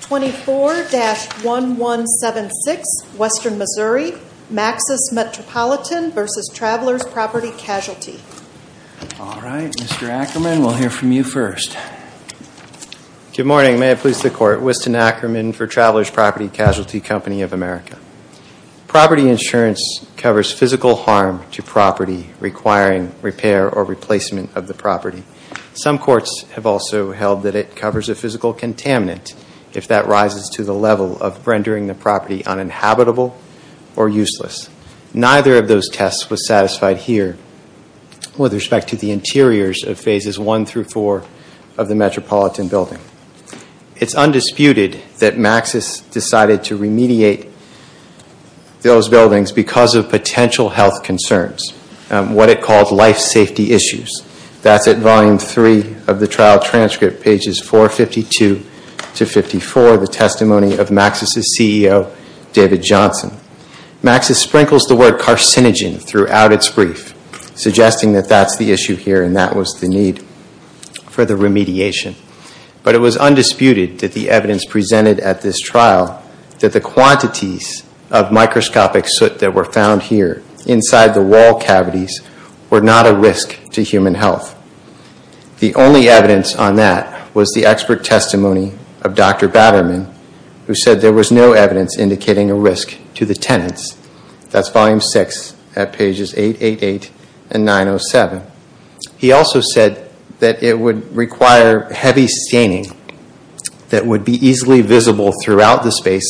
24-1176, Western Missouri, Maxus Metropolitan v. Travelers Property Casualty. All right. Mr. Ackerman, we'll hear from you first. Good morning. May it please the Court. Winston Ackerman for Travelers Property Casualty Company of America. Property insurance covers physical harm to property requiring repair or replacement of the property. Some courts have also held that it covers a physical contaminant if that rises to the level of rendering the property uninhabitable or useless. Neither of those tests was satisfied here with respect to the interiors of Phases 1 through 4 of the Metropolitan building. It's undisputed that Maxus decided to remediate those buildings because of potential health concerns, what it called life safety issues. That's at Volume 3 of the trial transcript, pages 452 to 54, the testimony of Maxus' CEO, David Johnson. Maxus sprinkles the word carcinogen throughout its brief, suggesting that that's the issue here and that was the need for the remediation. But it was undisputed that the evidence presented at this trial that the quantities of microscopic soot that were found here inside the wall cavities were not a risk to human health. The only evidence on that was the expert testimony of Dr. Batterman who said there was no evidence indicating a risk to the tenants. That's Volume 6 at pages 888 and 907. He also said that it would require heavy staining that would be easily visible throughout the space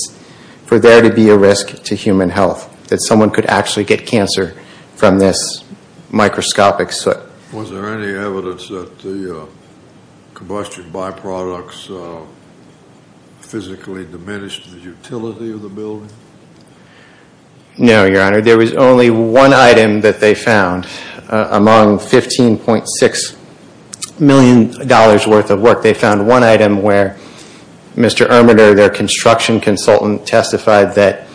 for there to be a risk to human health, that someone could actually get cancer from this microscopic soot. Is there any evidence that the combustion byproducts physically diminished the utility of the building? No, Your Honor. There was only one item that they found among $15.6 million worth of work. They found one item where Mr. Ermitter, their construction consultant, testified that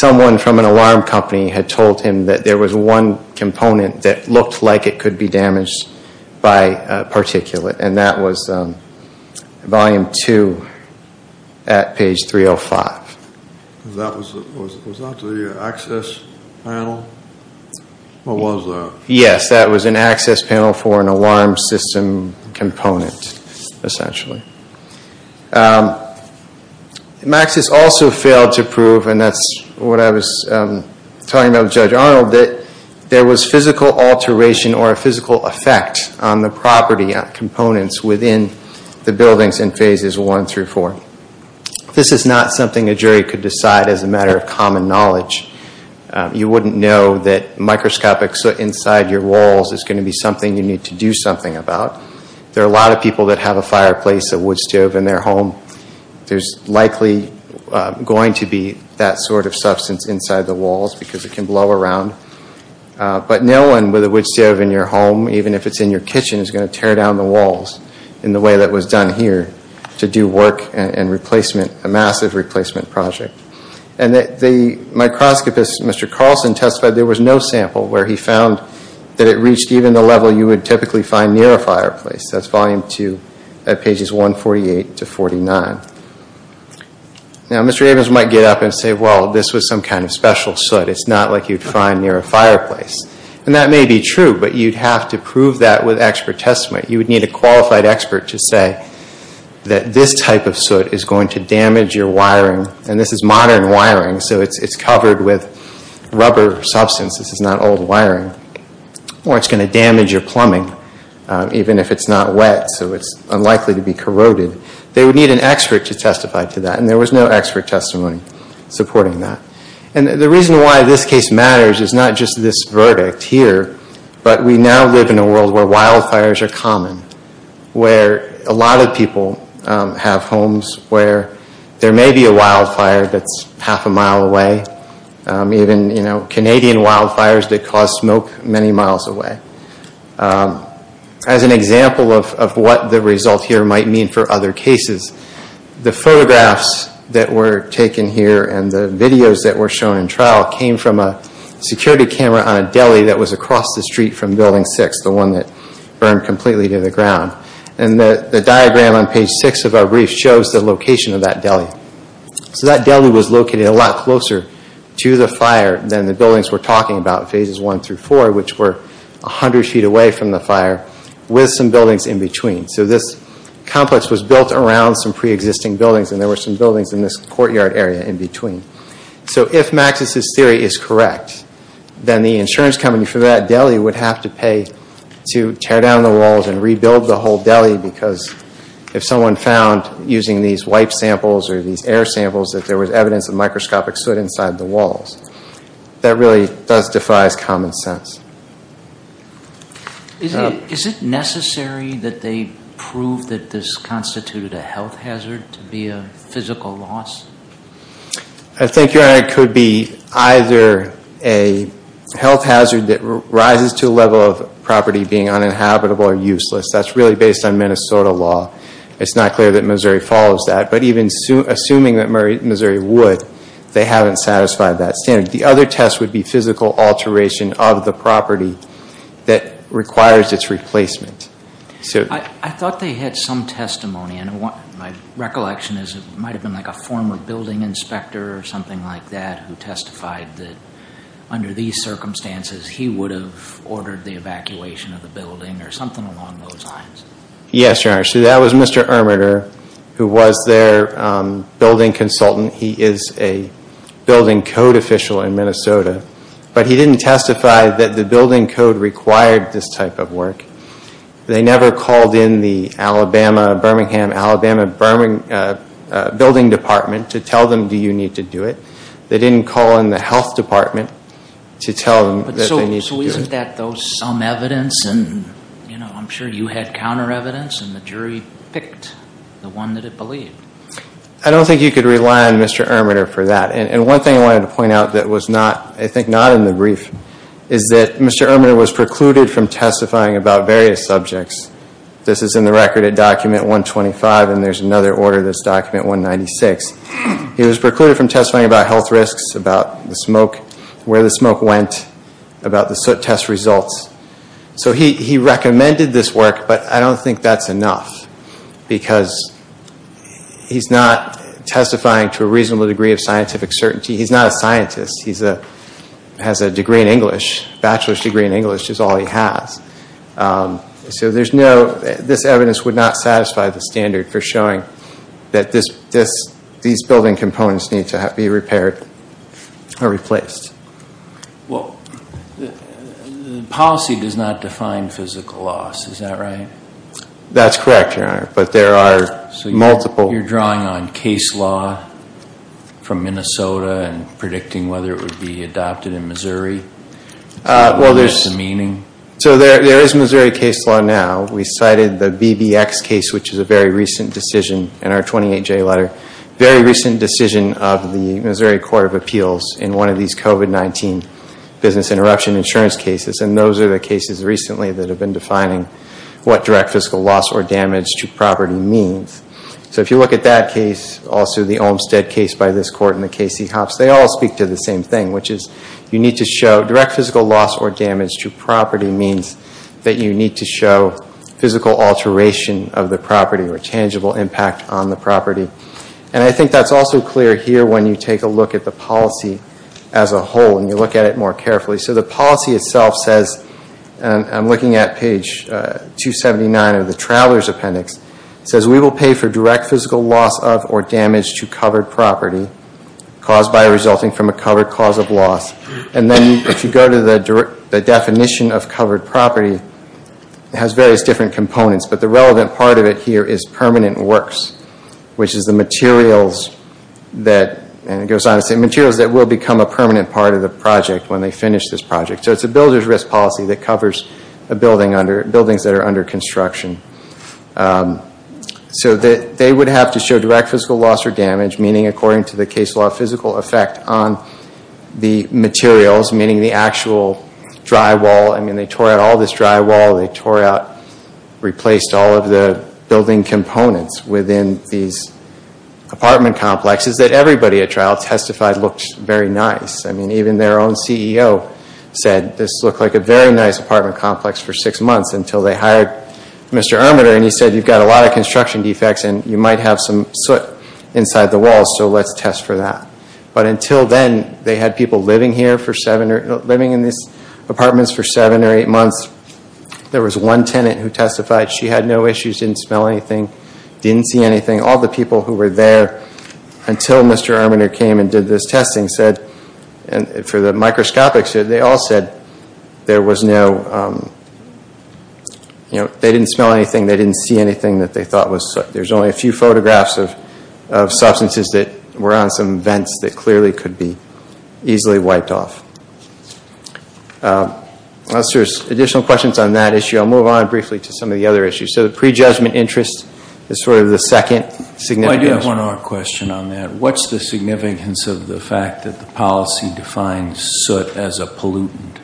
someone from an alarm company had told him that there was one component that looked like it could be damaged. And that was Volume 2 at page 305. Was that the access panel? Yes, that was an access panel for an alarm system component, essentially. Maxis also failed to prove, and that's what I was talking about with Judge Arnold, that there was physical alteration or a physical effect on the property components within the buildings in phases 1 through 4. This is not something a jury could decide as a matter of common knowledge. You wouldn't know that microscopic soot inside your walls is going to be something you need to do something about. There are a lot of people that have a fireplace, a wood stove in their home. There's likely going to be that sort of substance inside the walls because it can blow around. But no one with a wood stove in your home, even if it's in your kitchen, is going to tear down the walls in the way that was done here to do work and replacement, a massive replacement project. And the microscopist, Mr. Carlson, testified there was no sample where he found that it reached even the level you would typically find near a fireplace. That's volume 2 at pages 148 to 49. Now, Mr. Evans might get up and say, well, this was some kind of special soot. It's not like you'd find near a fireplace. And that may be true, but you'd have to prove that with expert testament. You would need a qualified expert to say that this type of soot is going to damage your wiring, and this is modern wiring, so it's covered with rubber substance. This is not old wiring. Or it's going to damage your plumbing, even if it's not wet, so it's unlikely to be corroded. They would need an expert to testify to that, and there was no expert testimony supporting that. And the reason why this case matters is not just this verdict here, but we now live in a world where wildfires are common, where a lot of people have homes where there may be a wildfire that's half a mile away. Even Canadian wildfires that cause smoke many miles away. As an example of what the result here might mean for other cases, the photographs that were taken here and the videos that were shown in trial came from a security camera on a deli that was across the street from Building 6, the one that burned completely to the ground. And the diagram on Page 6 of our brief shows the location of that deli. So that deli was located a lot closer to the fire than the buildings we're talking about, Phases 1 through 4, which were 100 feet away from the fire, with some buildings in between. So this complex was built around some preexisting buildings, and there were some buildings in this courtyard area in between. So if Maxis' theory is correct, then the insurance company for that deli would have to pay to tear down the walls and rebuild the whole deli because if someone found, using these wipe samples or these air samples, that there was evidence of microscopic soot inside the walls. That really does defy common sense. Is it necessary that they prove that this constituted a health hazard to be a physical loss? I think, Your Honor, it could be either a health hazard that rises to a level of property being uninhabitable or useless. That's really based on Minnesota law. It's not clear that Missouri follows that. But even assuming that Missouri would, they haven't satisfied that standard. The other test would be physical alteration of the property that requires its replacement. I thought they had some testimony. And my recollection is it might have been a former building inspector or something like that who testified that under these circumstances he would have ordered the evacuation of the building or something along those lines. Yes, Your Honor. So that was Mr. Ermitter, who was their building consultant. He is a building code official in Minnesota. But he didn't testify that the building code required this type of work. They never called in the Alabama, Birmingham, Alabama Building Department to tell them do you need to do it. They didn't call in the Health Department to tell them that they needed to do it. So isn't that some evidence? I'm sure you had counter evidence and the jury picked the one that it believed. I don't think you could rely on Mr. Ermitter for that. And one thing I wanted to point out that was not, I think not in the brief, is that Mr. Ermitter was precluded from testifying about various subjects. This is in the record at document 125 and there's another order that's document 196. He was precluded from testifying about health risks, about the smoke, where the smoke went, about the soot test results. So he recommended this work, but I don't think that's enough. Because he's not testifying to a reasonable degree of scientific certainty. He's not a scientist. He has a degree in English. Bachelor's degree in English is all he has. So this evidence would not satisfy the standard for showing that these building components need to be repaired or replaced. Well, the policy does not define physical loss. Is that right? That's correct, Your Honor, but there are multiple. So you're drawing on case law from Minnesota and predicting whether it would be adopted in Missouri? What's the meaning? So there is Missouri case law now. We cited the BBX case, which is a very recent decision in our 28-J letter. Very recent decision of the Missouri Court of Appeals in one of these COVID-19 business interruption insurance cases. And those are the cases recently that have been defining what direct physical loss or damage to property means. So if you look at that case, also the Olmstead case by this Court and the Casey-Hopps, they all speak to the same thing, which is you need to show direct physical loss or damage to property means that you need to show physical alteration of the property or tangible impact on the property. And I think that's also clear here when you take a look at the policy as a whole and you look at it more carefully. So the policy itself says, and I'm looking at page 279 of the Traveler's Appendix, it says we will pay for direct physical loss of or damage to covered property caused by or resulting from a covered cause of loss. And then if you go to the definition of covered property, it has various different components, but the relevant part of it here is permanent works, which is the materials that will become a permanent part of the project when they finish this project. So it's a builder's risk policy that covers buildings that are under construction. So they would have to show direct physical loss or damage, meaning according to the case law, physical effect on the materials, meaning the actual drywall. I mean, they tore out all this drywall, they tore out, replaced all of the building components within these apartment complexes that everybody at trial testified looked very nice. I mean, even their own CEO said this looked like a very nice apartment complex for six months until they hired Mr. Ermitter and he said, you've got a lot of construction defects and you might have some soot inside the walls, so let's test for that. So after seven or eight months, there was one tenant who testified she had no issues, didn't smell anything, didn't see anything. All the people who were there until Mr. Ermitter came and did this testing said, for the microscopics, they all said there was no, you know, they didn't smell anything, they didn't see anything that they thought was, there's only a few photographs of substances that were on some vents that clearly could be easily wiped off. Unless there's additional questions on that issue, I'll move on briefly to some of the other issues. So the prejudgment interest is sort of the second significance. Why do you have one more question on that? What's the significance of the fact that the policy defines soot as a pollutant?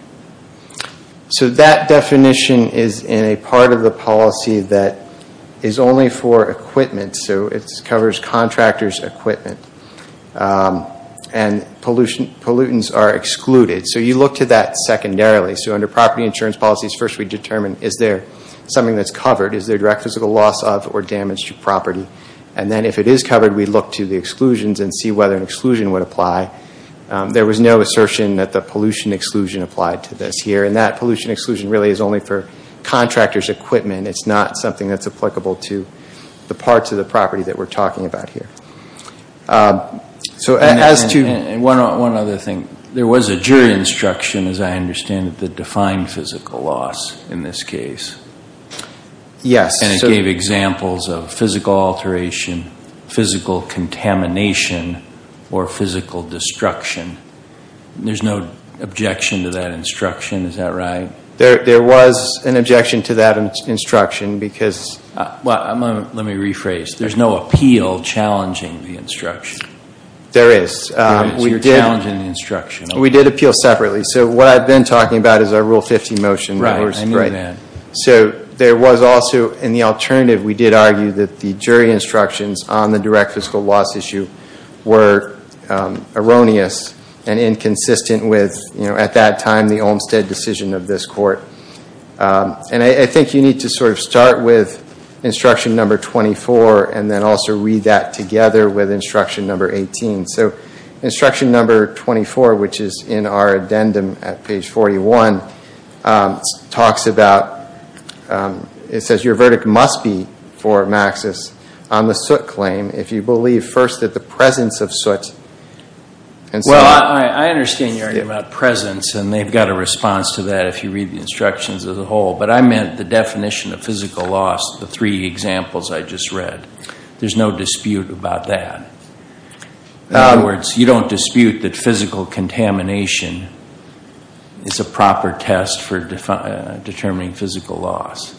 So that definition is in a part of the policy that is only for equipment, so it covers contractors' equipment. And pollutants are excluded, so you look to that secondarily. So under property insurance policies, first we determine is there something that's covered? Is there direct physical loss of or damage to property? And then if it is covered, we look to the exclusions and see whether an exclusion would apply. There was no assertion that the pollution exclusion applied to this here, and that pollution exclusion really is only for contractors' equipment. It's not something that's applicable to the parts of the property that we're talking about here. And one other thing. There was a jury instruction, as I understand it, that defined physical loss in this case. And it gave examples of physical alteration, physical contamination, or physical destruction. There's no objection to that instruction, is that right? There was an objection to that instruction because... There is. We did appeal separately, so what I've been talking about is our Rule 15 motion. So there was also, in the alternative, we did argue that the jury instructions on the direct physical loss issue were erroneous and inconsistent with, at that time, the Olmstead decision of this court. And I think you need to sort of start with instruction number 24 and then also read that together with instruction number 18. So instruction number 24, which is in our addendum at page 41, talks about, it says your verdict must be for Maxis on the soot claim if you believe, first, that the presence of soot... Well, I understand you're arguing about presence, and they've got a response to that if you read the instructions as a whole. But I meant the definition of physical loss, the three examples I just read. There's no dispute about that. In other words, you don't dispute that physical contamination is a proper test for determining physical loss.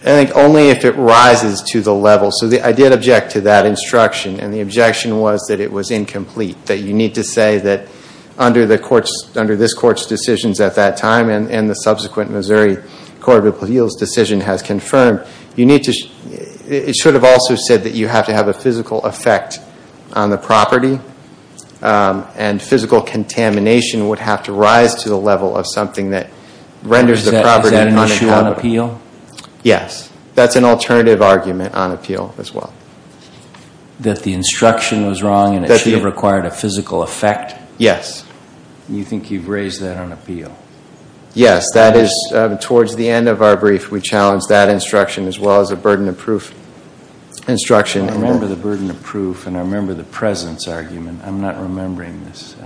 I think only if it rises to the level. So I did object to that instruction, and the objection was that it was incomplete, that you need to say that under this court's decisions at that time, and the subsequent Missouri Court of Appeals decision has confirmed, it should have also said that you have to have a physical effect on the property, and physical contamination would have to rise to the level of something that renders the property unaccountable. Yes. That's an alternative argument on appeal as well. That the instruction was wrong, and it should have required a physical effect? Yes. And you think you've raised that on appeal? Yes. That is, towards the end of our brief, we challenged that instruction as well as the burden of proof instruction. I remember the burden of proof, and I remember the presence argument. I'm not remembering this.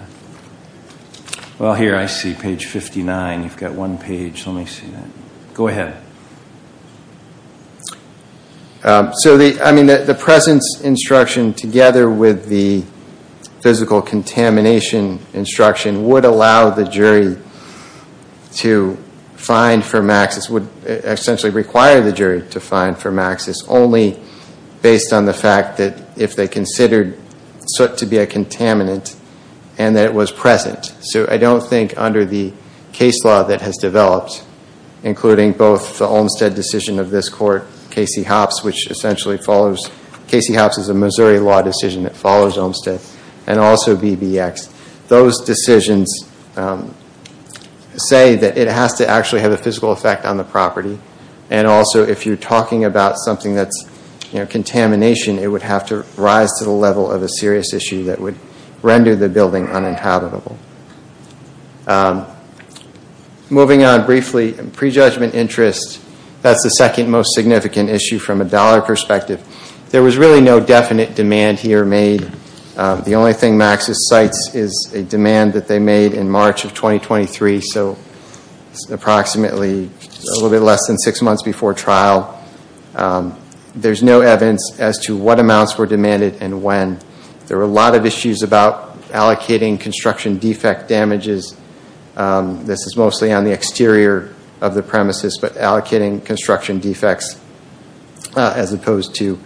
Well, here, I see page 59. You've got one page. Let me see that. Go ahead. The presence instruction together with the physical contamination instruction would allow the jury to find for Maxis, would essentially require the jury to find for Maxis, only based on the fact that if they considered soot to be a contaminant, and that it was present. So I don't think under the case law that has developed, including both the Olmstead decision of this court, Casey Hopps, which essentially follows, Casey Hopps is a Missouri law decision that follows Olmstead, and also BBX. Those decisions say that it has to actually have a physical effect on the property, and also if you're talking about something that's contamination, it would have to rise to the level of a serious issue that would render the building uninhabitable. Moving on briefly, prejudgment interest, that's the second most significant issue from a dollar perspective. There was really no definite demand here made. The only thing Maxis cites is a demand that they made in March of 2023, so approximately a little bit less than six months before trial. There's no evidence as to what amounts were demanded and when. There were a lot of issues about allocating construction defect damages. This is mostly on the exterior of the premises, but allocating construction defects as opposed to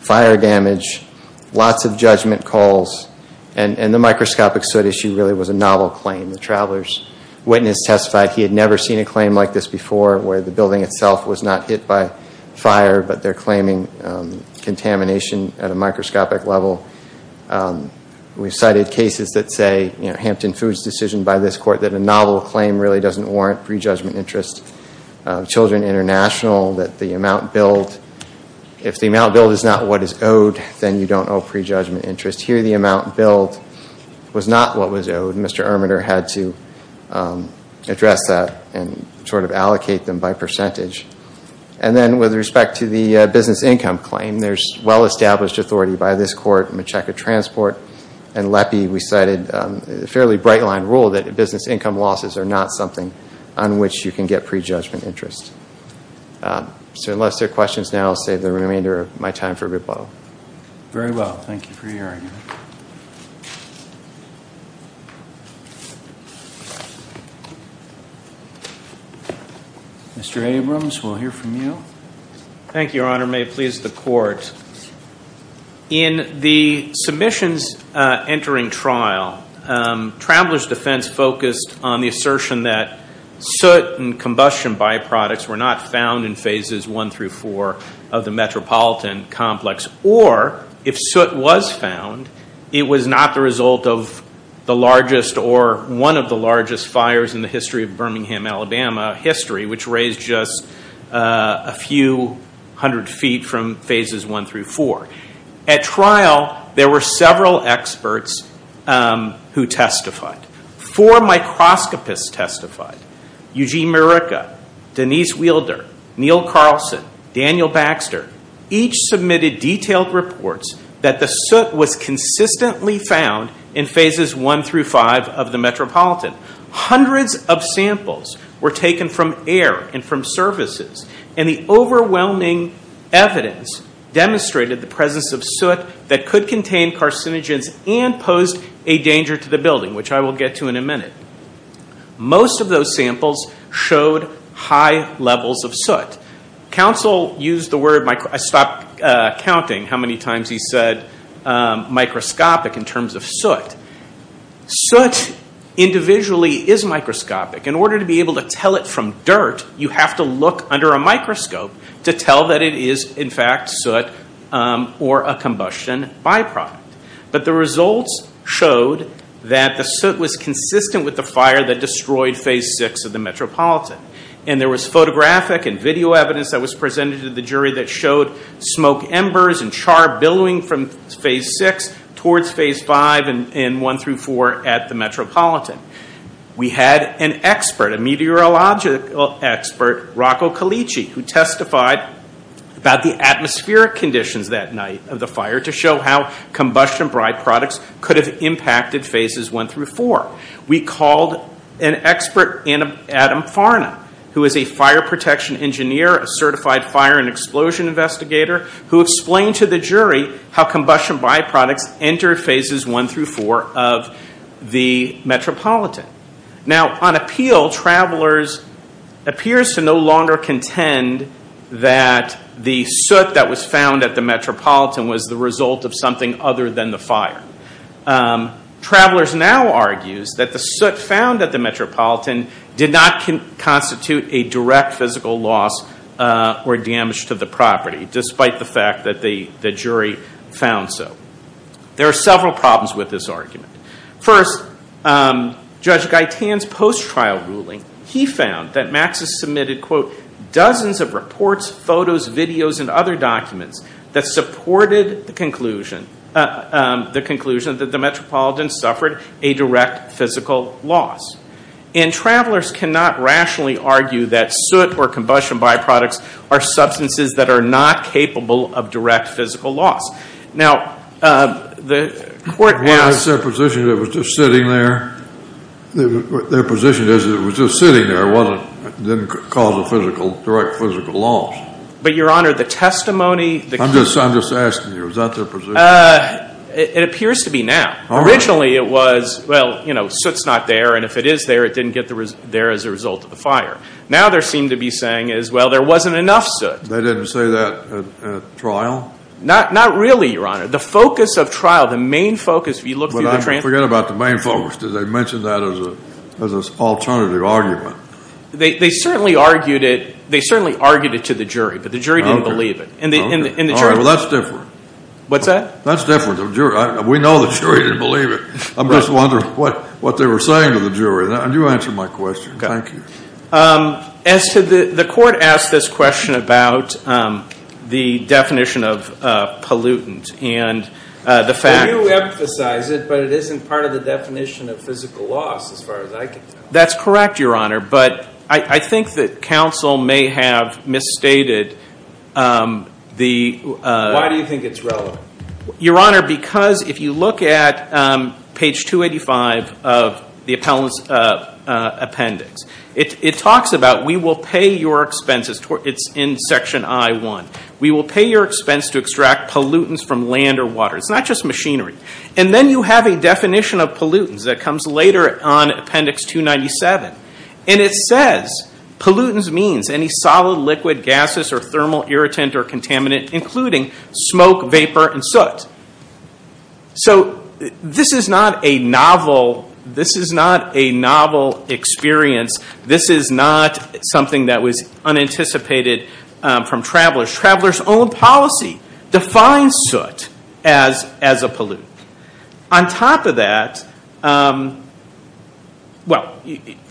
fire damage, lots of judgment calls, and the microscopic soot issue really was a novel claim. The traveler's witness testified he had never seen a claim like this before where the building itself was not hit by fire, but they're claiming contamination at a microscopic level. We've cited cases that say, Hampton Foods' decision by this court that a novel claim really doesn't warrant prejudgment interest. Children International, that the amount billed, if the amount billed is not what is owed, then you don't owe prejudgment interest. Here the amount billed was not what was owed. Mr. Ermitter had to address that and allocate them by percentage. And then with respect to the business income claim, there's well-established authority by this court, Macheca Transport, and LEPI. We cited a fairly bright-line rule that business income losses are not something on which you can get prejudgment interest. So unless there are questions now, I'll save the remainder of my time for rebuttal. Very well. Thank you for your argument. Mr. Abrams, we'll hear from you. Thank you, Your Honor. May it please the court. In the submissions entering trial, traveler's defense focused on the assertion that soot and combustion byproducts were not found in phases one through four of the metropolitan complex, or if soot was found, it was not the result of the largest or one of the largest fires in the history of Birmingham, Alabama history, which raised just a few hundred feet from phases one through four. At trial, there were several experts who testified. Four microscopists testified. Eugene Marica, Denise Wielder, Neil Carlson, Daniel Baxter, each submitted detailed reports that the soot was consistently found in phases one through five of the metropolitan. Hundreds of samples were taken from air and from services, and the overwhelming evidence demonstrated the presence of soot that could contain carcinogens and posed a danger to the building, which I will get to in a minute. Most of those samples showed high levels of soot. Counsel used the word, I stopped counting how many times he said microscopic in terms of soot. Soot individually is microscopic. In order to be able to tell it from dirt, you have to look under a microscope to tell that it is in fact soot or a combustion byproduct. But the results showed that the soot was consistent with the fire that destroyed phase six of the metropolitan. And there was photographic and video evidence that was presented to the jury that showed smoke embers and char billowing from phase six towards phase five and one through four at the metropolitan. We had an expert, a meteorological expert, Rocco Calicci, who testified about the atmospheric conditions that night of the fire to show how combustion byproducts could have impacted phases one through four. We called an expert, Adam Farna, who is a fire protection engineer, a certified fire and explosion investigator, who explained to the jury how combustion byproducts entered phases one through four of the metropolitan. Now, on appeal, Travelers appears to no longer contend that the soot that was found at the metropolitan was the result of something other than the fire. Travelers now argues that the soot found at the metropolitan did not constitute a direct physical loss or damage to the property, despite the fact that the jury found so. There are several problems with this argument. First, Judge Gaitan's post-trial ruling, he found that Maxis submitted, quote, dozens of reports, photos, videos, and other documents that supported the conclusion that the metropolitan suffered a direct physical loss. And Travelers cannot rationally argue that soot or combustion byproducts are substances that are not capable of direct physical loss. Now, the court was... Their position is it was just sitting there. It didn't cause a direct physical loss. But, Your Honor, the testimony... I'm just asking you. Is that their position? It appears to be now. Originally, it was, well, you know, soot's not there, and if it is there, it didn't get there as a result of the fire. Now, they seem to be saying, well, there wasn't enough soot. They didn't say that at trial? Not really, Your Honor. The focus of trial, the main focus, if you look through the transcript... But I forget about the main focus. Did they mention that as an alternative argument? They certainly argued it to the jury, but the jury didn't believe it. Well, that's different. What's that? That's different. We know the jury didn't believe it. I'm just wondering what they were saying to the jury. You answer my question. Thank you. As to the court asked this question about the definition of pollutant and the fact... You emphasize it, but it isn't part of the definition of physical loss, as far as I can tell. That's correct, Your Honor, but I think that counsel may have misstated the... Why do you think it's relevant? Your Honor, because if you look at page 285 of the appellant's appendix, it talks about we will pay your expenses. It's in section I-1. We will pay your expense to extract pollutants from land or water. It's not just machinery. And then you have a definition of pollutants that comes later on appendix 297. And it says pollutants means any solid, liquid, gases, or thermal irritant or contaminant, including smoke, vapor, and soot. So this is not a novel experience. This is not something that was unanticipated from travelers. Travelers' own policy defines soot as a pollutant. On top of that, well,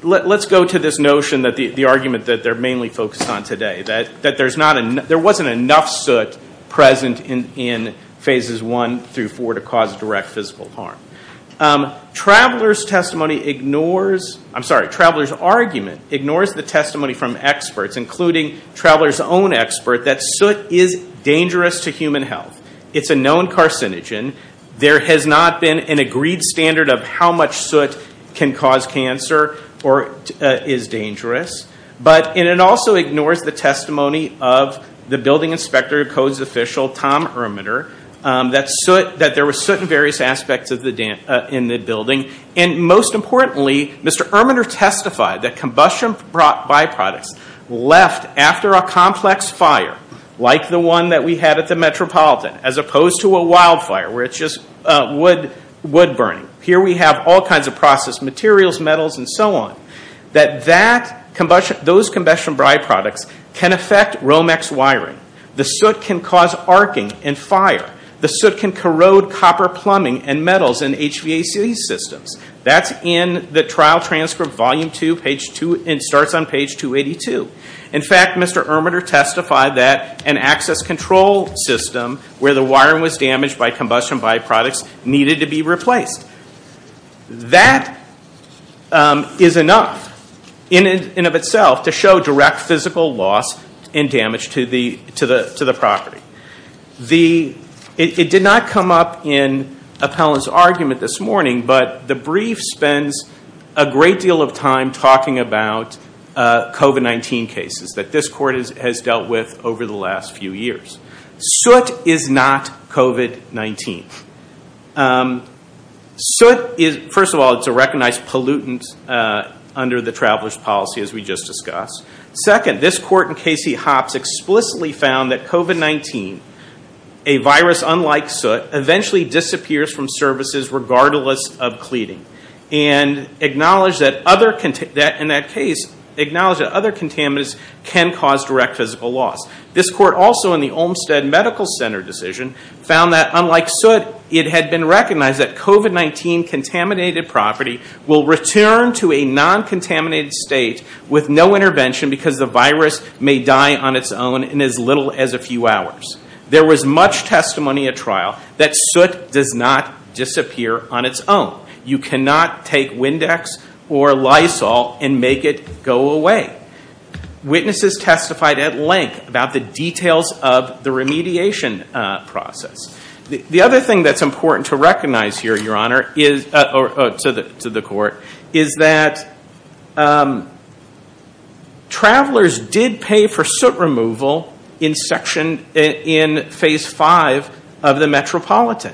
let's go to this notion that the argument that they're mainly focused on today, that there wasn't enough soot present in phases one through four to cause direct physical harm. Travelers' testimony ignores... I'm sorry, travelers' argument ignores the testimony from experts, including travelers' own expert, that soot is dangerous to human health. It's a known carcinogen. There has not been an agreed standard of how much soot can cause cancer or is dangerous. And it also ignores the testimony of the building inspector, codes official, Tom Ermitter, that there was soot in various buildings. He testified that combustion byproducts left after a complex fire, like the one that we had at the Metropolitan, as opposed to a wildfire where it's just wood burning. Here we have all kinds of processed materials, metals, and so on, that those combustion byproducts can affect Romex wiring. The soot can cause arcing and fire. The soot can corrode copper plumbing and metals in HVAC systems. That's in the trial transcript, volume two, and starts on page 282. In fact, Mr. Ermitter testified that an access control system where the wiring was damaged by combustion byproducts needed to be replaced. That is enough in and of itself to show direct physical loss and damage to the property. It did not come up in appellant's argument this morning, but the brief spends a great deal of time talking about COVID-19 cases that this court has dealt with over the last few years. Soot is not COVID-19. Soot is, first of all, it's a recognized pollutant under the traveler's policy, as we just discussed. Second, this court in Casey Hopps explicitly found that COVID-19, a virus unlike soot, eventually disappears from services regardless of cleaning. And in that case, acknowledged that other contaminants can cause direct physical loss. This court also, in the Olmsted Medical Center decision, found that unlike soot, it had been recognized that COVID-19 contaminated property will return to a non-contaminated state with no intervention because the virus may die on its own in as little as a few hours. There was much testimony at trial that soot does not disappear on its own. You cannot take Windex or Lysol and make it go away. Witnesses testified at length about the details of the remediation process. The other thing that's important to recognize here, Your Honor, to the court, is that travelers did pay for soot removal in phase five of the Metropolitan.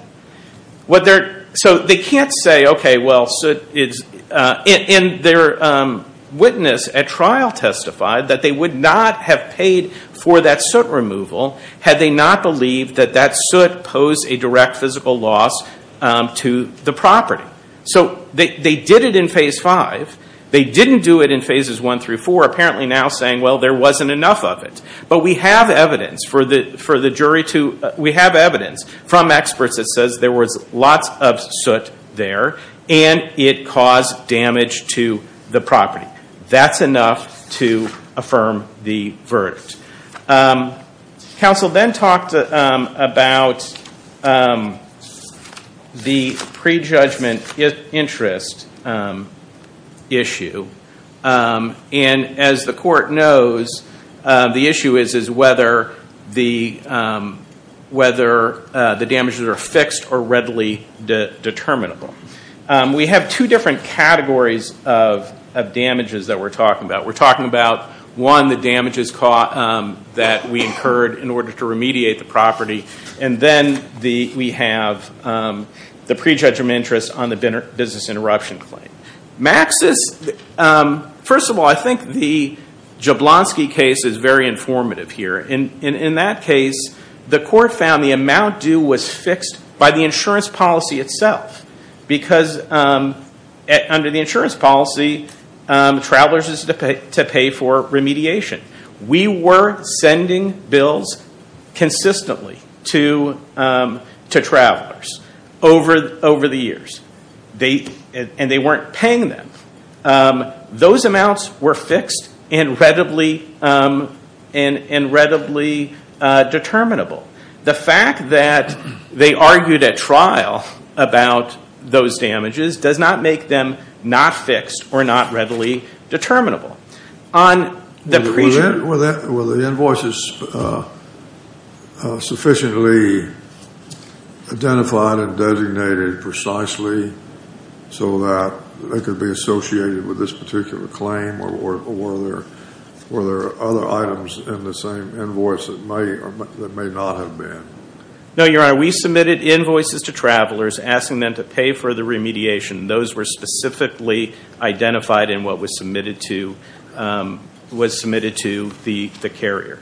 So they can't say, okay, well, soot is... And their witness at trial testified that they would not have paid for that soot removal had they not believed that that soot posed a direct physical loss to the property. So they did it in phase five. They didn't do it in phases one through four, apparently now saying, well, there wasn't enough of it. But we have evidence for the jury to, we have evidence from experts that says there was lots of soot there, and it caused damage to the property. That's enough to affirm the verdict. Counsel then talked about the prejudgment interest issue. And as the court knows, the issue is whether the damages are fixed or readily determinable. We have two different categories of damages that we're talking about. We're talking about, one, the damages that we incurred in order to remediate the property. And then we have the prejudgment interest on the business interruption claim. Maxis, first of all, I think the Jablonski case is very informative here. In that case, the court found the amount due was fixed by the insurance policy itself. Because under the insurance policy, travelers is to pay for remediation. We were sending bills consistently to travelers over the years. And they weren't paying them. Those amounts were fixed and readily determinable. The fact that they argued at trial about those damages does not make them not fixed or not readily determinable. Were the invoices sufficiently identified and designated precisely so that they could be associated with this particular claim? Or were there other items in the same invoice that may not have been? No, Your Honor. We submitted invoices to travelers asking them to pay for the remediation. Those were specifically identified in what was submitted to the carrier.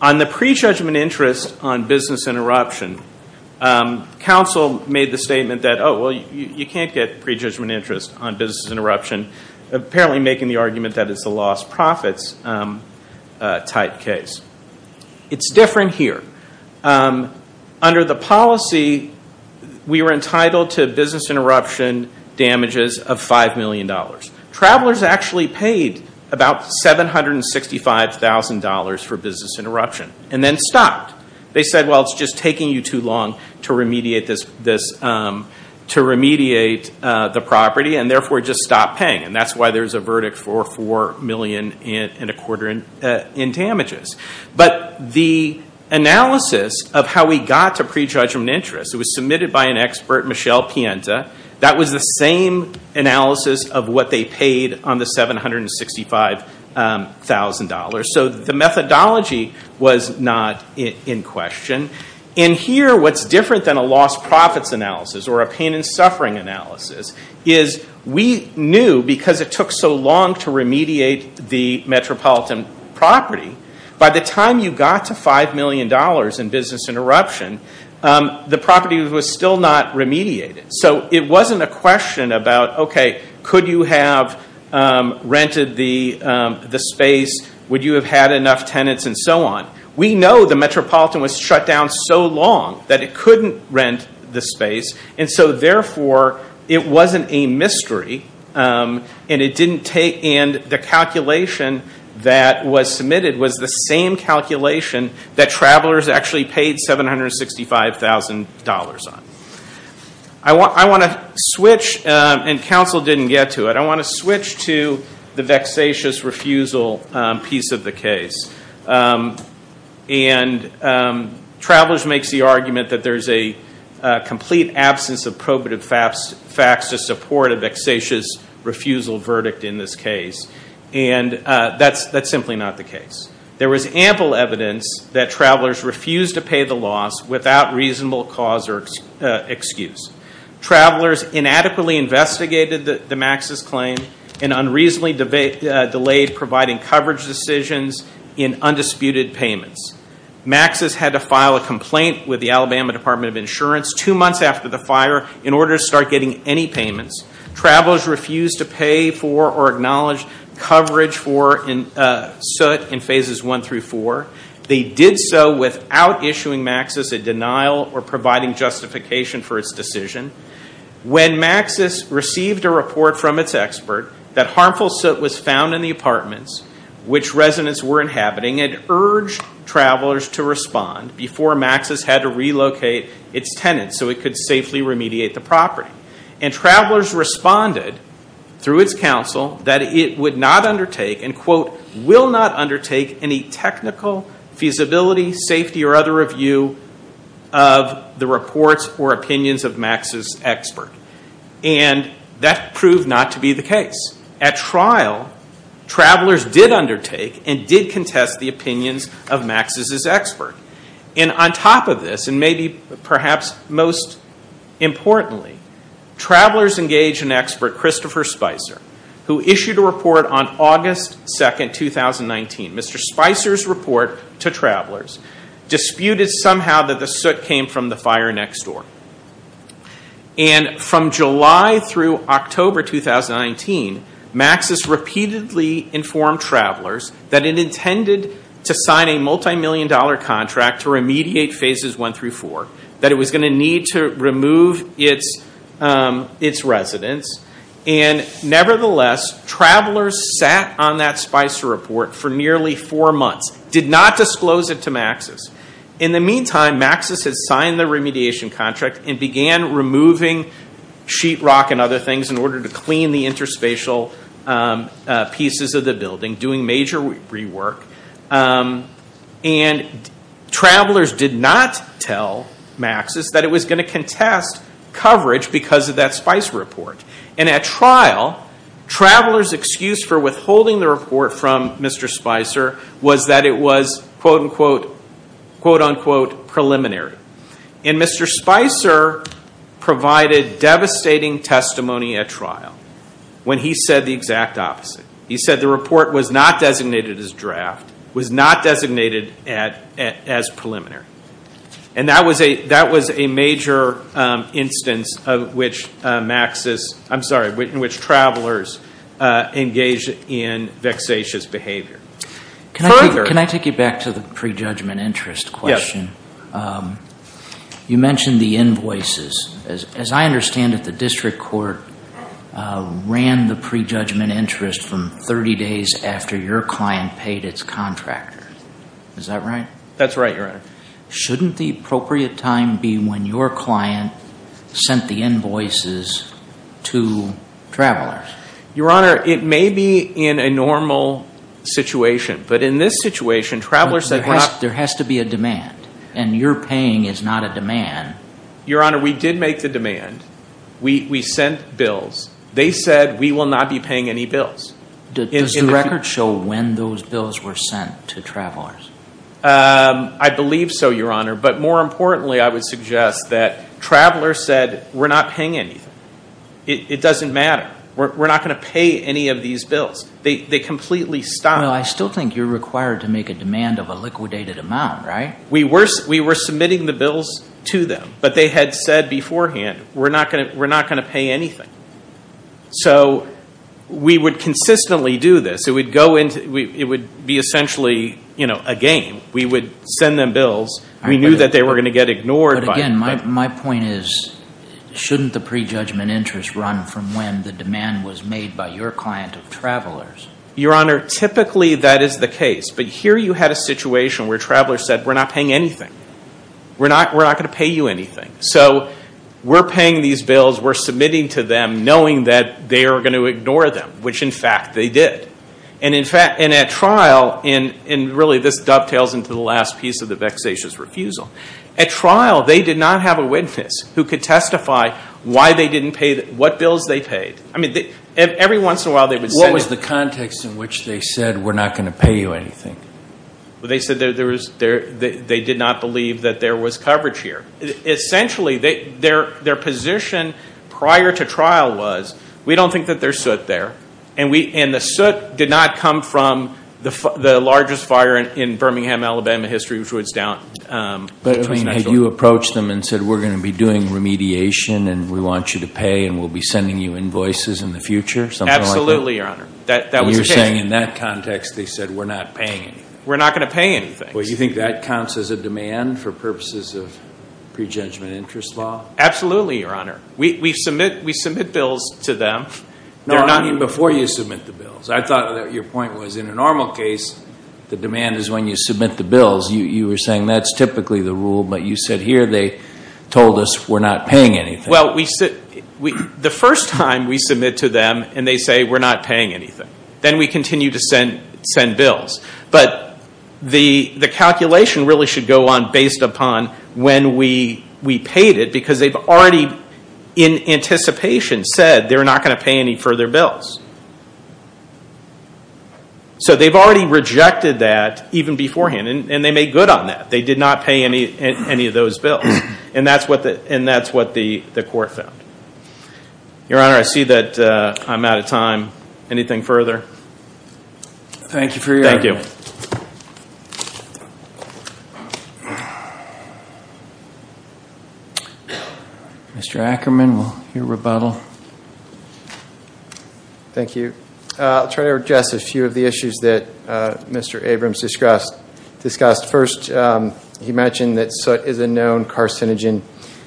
On the prejudgment interest on business interruption, counsel made the statement that you can't get prejudgment interest on business interruption, apparently making the argument that it's a lost profits type case. It's different here. Under the policy, we were entitled to business interruption damages of $5 million. Travelers actually paid about $765,000 for business interruption and then stopped. They said, well, it's just taking you too long to remediate the property and therefore just stopped paying. And that's why there's a verdict for $4 million and a quarter in damages. But the analysis of how we got to prejudgment interest, it was submitted by an expert, Michelle Pienta. That was the same analysis of what they paid on the $765,000. So the methodology was not in question. In here, what's different than a lost profits analysis or a pain and suffering analysis is we knew because it took so long to remediate the metropolitan property, by the time you got to $5 million in business interruption, the property was still not remediated. So it wasn't a question about, okay, could you have rented the space? Would you have had enough tenants and so on? We know the metropolitan was shut down so long that it couldn't rent the space. And so therefore it wasn't a mystery. And the calculation that was submitted was the same calculation that travelers actually paid $765,000 on. I want to switch, and counsel didn't get to it, I want to switch to the vexatious refusal piece of the case. And travelers makes the argument that there's a complete absence of probative facts to support a vexatious refusal verdict in this case. And that's simply not the case. There was ample evidence that travelers refused to pay the loss without reasonable cause or excuse. Travelers inadequately investigated the Maxis claim and unreasonably delayed providing coverage decisions in undisputed payments. Maxis had to file a complaint with the Alabama Department of Insurance two months after the fire in order to start getting any payments. Travelers refused to pay for or acknowledge coverage for soot in phases one through four. They did so without issuing Maxis a denial or providing justification for its decision. When Maxis received a report from its expert that harmful soot was found in the apartments which residents were inhabiting, it urged travelers to respond before Maxis had to relocate its tenants so it could safely remediate the property. And travelers responded through its counsel that it would not undertake and quote, will not undertake any technical feasibility, safety, or other review of the reports or opinions of Maxis' expert. And that proved not to be the case. At trial, travelers did undertake and did contest the opinions of Maxis' expert. And on top of this, and maybe perhaps most importantly, travelers engaged an expert, Christopher Spicer, who issued a report on August 2, 2019. Mr. Spicer's report to travelers disputed somehow that the soot came from the fire next door. And from July through October 2019, Maxis repeatedly informed travelers that it intended to sign a multimillion dollar contract to remediate phases one through four, that it was going to need to remove its residents. And nevertheless, travelers sat on that Spicer report for nearly four months, did not disclose it to Maxis. In the meantime, Maxis had signed the remediation contract and began removing sheetrock and other things in order to clean the interspatial pieces of the building, doing major rework. And travelers did not tell Maxis that it was going to contest coverage because of that Spicer report. And at trial, travelers' excuse for withholding the report from Mr. Spicer was that it was quote-unquote preliminary. And Mr. Spicer provided devastating testimony at trial when he said the exact opposite. He said the report was not designated as draft, was not designated as preliminary. And that was a major instance of which Maxis, I'm sorry, in which travelers engaged in vexatious behavior. Can I take you back to the prejudgment interest question? You mentioned the invoices. As I understand it, the district court ran the prejudgment interest from 30 days after your client paid its contractor. Is that right? That's right, Your Honor. Shouldn't the appropriate time be when your client sent the invoices to travelers? Your Honor, it may be in a normal situation. But in this situation, travelers said... There has to be a demand. And your paying is not a demand. Your Honor, we did make the demand. We sent bills. They said we will not be paying any bills. Does the record show when those bills were sent to travelers? I believe so, Your Honor. But more importantly, I would suggest that travelers said we're not paying anything. It doesn't matter. We're not going to pay any of these bills. They completely stopped. Well, I still think you're required to make a demand of a liquidated amount, right? We were submitting the bills to them. But they had said beforehand we're not going to pay anything. So we would consistently do this. It would be essentially a game. We would send them bills. We knew that they were going to get them. And the demand was made by your client of travelers. Your Honor, typically that is the case. But here you had a situation where travelers said we're not paying anything. We're not going to pay you anything. So we're paying these bills. We're submitting to them knowing that they are going to ignore them, which in fact they did. And in fact, and at trial, and really this dovetails into the last piece of the vexatious refusal, at trial they did not have a witness who could testify why they didn't pay, what bills they paid. I mean, every once in a while they would send them. What was the context in which they said we're not going to pay you anything? They said they did not believe that there was coverage here. Essentially their position prior to trial was we don't think that there's soot there. And the soot did not come from the largest fire in Birmingham, Alabama history, which was down. But I mean, had you approached them and said we're going to be doing remediation and we want you to pay and we'll be sending you invoices in the future, something like that? Absolutely, Your Honor. That was the case. And you're saying in that context they said we're not paying anything? We're not going to pay anything. Well, you think that counts as a demand for purposes of pre-judgment interest law? Absolutely, Your Honor. We submit bills to them. No, I mean before you submit the bills. I thought that your point was in a normal case the demand is when you submit the bills. You were saying that's typically the rule, but you said here they told us we're not paying anything. Well, the first time we submit to them and they say we're not paying anything. Then we continue to send bills. But the calculation really should go on based upon when we paid it because they've already in anticipation said they're not going to pay any further bills. So they've already rejected that even beforehand and they made good on that. They did not pay any of those bills. And that's what the court found. Your Honor, I see that I'm out of time. Anything further? Thank you for your hearing. Mr. Ackerman, we'll hear rebuttal. Thank you. I'll try to address a few of the issues that Mr. Abrams discussed. First, he mentioned that soot is a known carcinogen.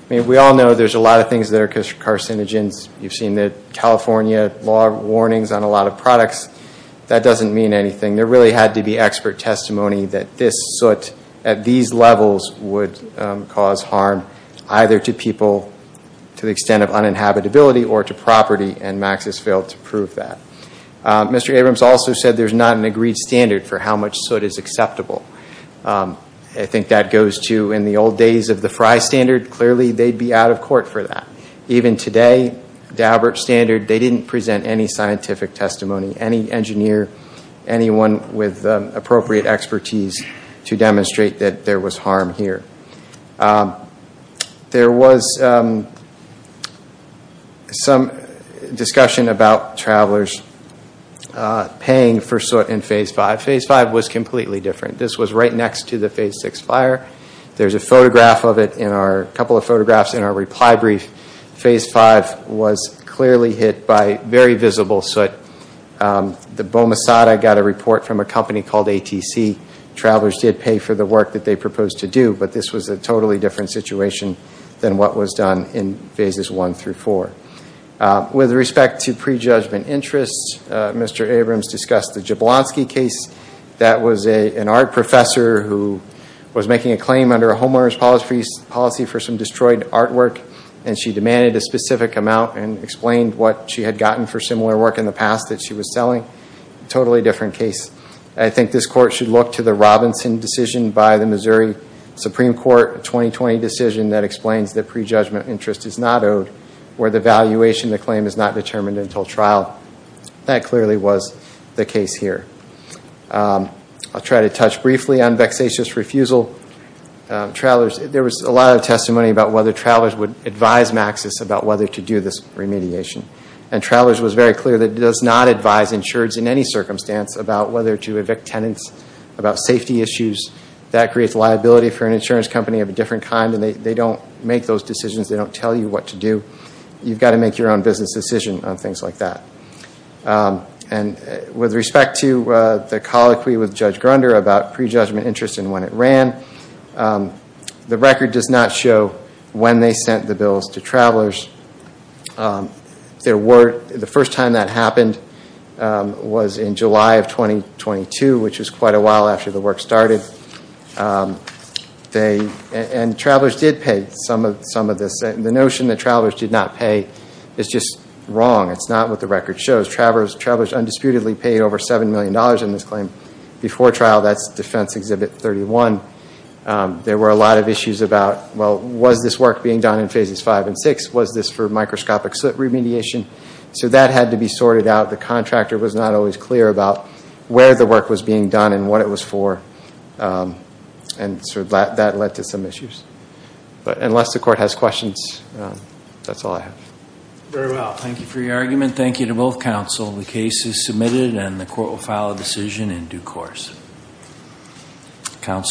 We all know there's a lot of things that are carcinogens. You've seen the California law warnings on a lot of products. That doesn't mean anything. There really had to be expert testimony that this soot at these levels would cause harm either to people to the extent of uninhabitability or to property, and Max has failed to prove that. Mr. Abrams also said there's not an agreed standard for how much soot is acceptable. I think that goes to in the old days of the Frye standard. Clearly they'd be out of court for that. Even today, Daubert standard, they didn't present any scientific testimony. Any engineer, anyone with appropriate expertise to demonstrate that there was harm here. There was some discussion about travelers paying for soot in Phase 5. Phase 5 was completely different. This was right next to the Phase 6 fire. There's a couple of photographs in our reply brief. Phase 5 was clearly hit by very visible soot. The Bomasada got a report from a company called ATC. Travelers did pay for the work that they proposed to do, but this was a totally different situation than what was done in Phases 1 through 4. With respect to prejudgment interests, Mr. Abrams discussed the Jablonski case. That was an art professor who was making a claim under a homeowner's policy for some destroyed artwork, and she demanded a specific amount and explained what she had gotten for similar work in the past that she was selling. Totally different case. I think this Court should look to the Robinson decision by the Missouri Supreme Court, a 2020 decision that explains that prejudgment interest is not owed or the valuation of the claim is not determined until trial. That clearly was the case here. I'll try to touch briefly on vexatious refusal. There was a lot of testimony about whether travelers would advise Maxis about whether to do this remediation. Travelers was very clear that it does not advise insureds in any circumstance about whether to evict tenants, about safety issues. That creates liability for an insurance company of a different kind, and they don't make those decisions. They don't tell you what to do. You've got to make your own business decision on things like that. With respect to the colloquy with Judge Grunder about prejudgment interest and when it ran, the record does not show when they sent the bills to travelers. The first time that happened was in July of 2022, which was quite a while after the work started. Travelers did pay some of this. The notion that travelers did not pay is just wrong. It's not what the record shows. Travelers undisputedly paid over $7 million in this claim before trial. That's Defense Exhibit 31. There were a lot of issues about, well, was this work being done in Phases 5 and 6? Was this for microscopic soot remediation? That had to be sorted out. The contractor was not always clear about where the work was being done and what it was for. That led to some issues. Unless the Court has questions, that's all I have.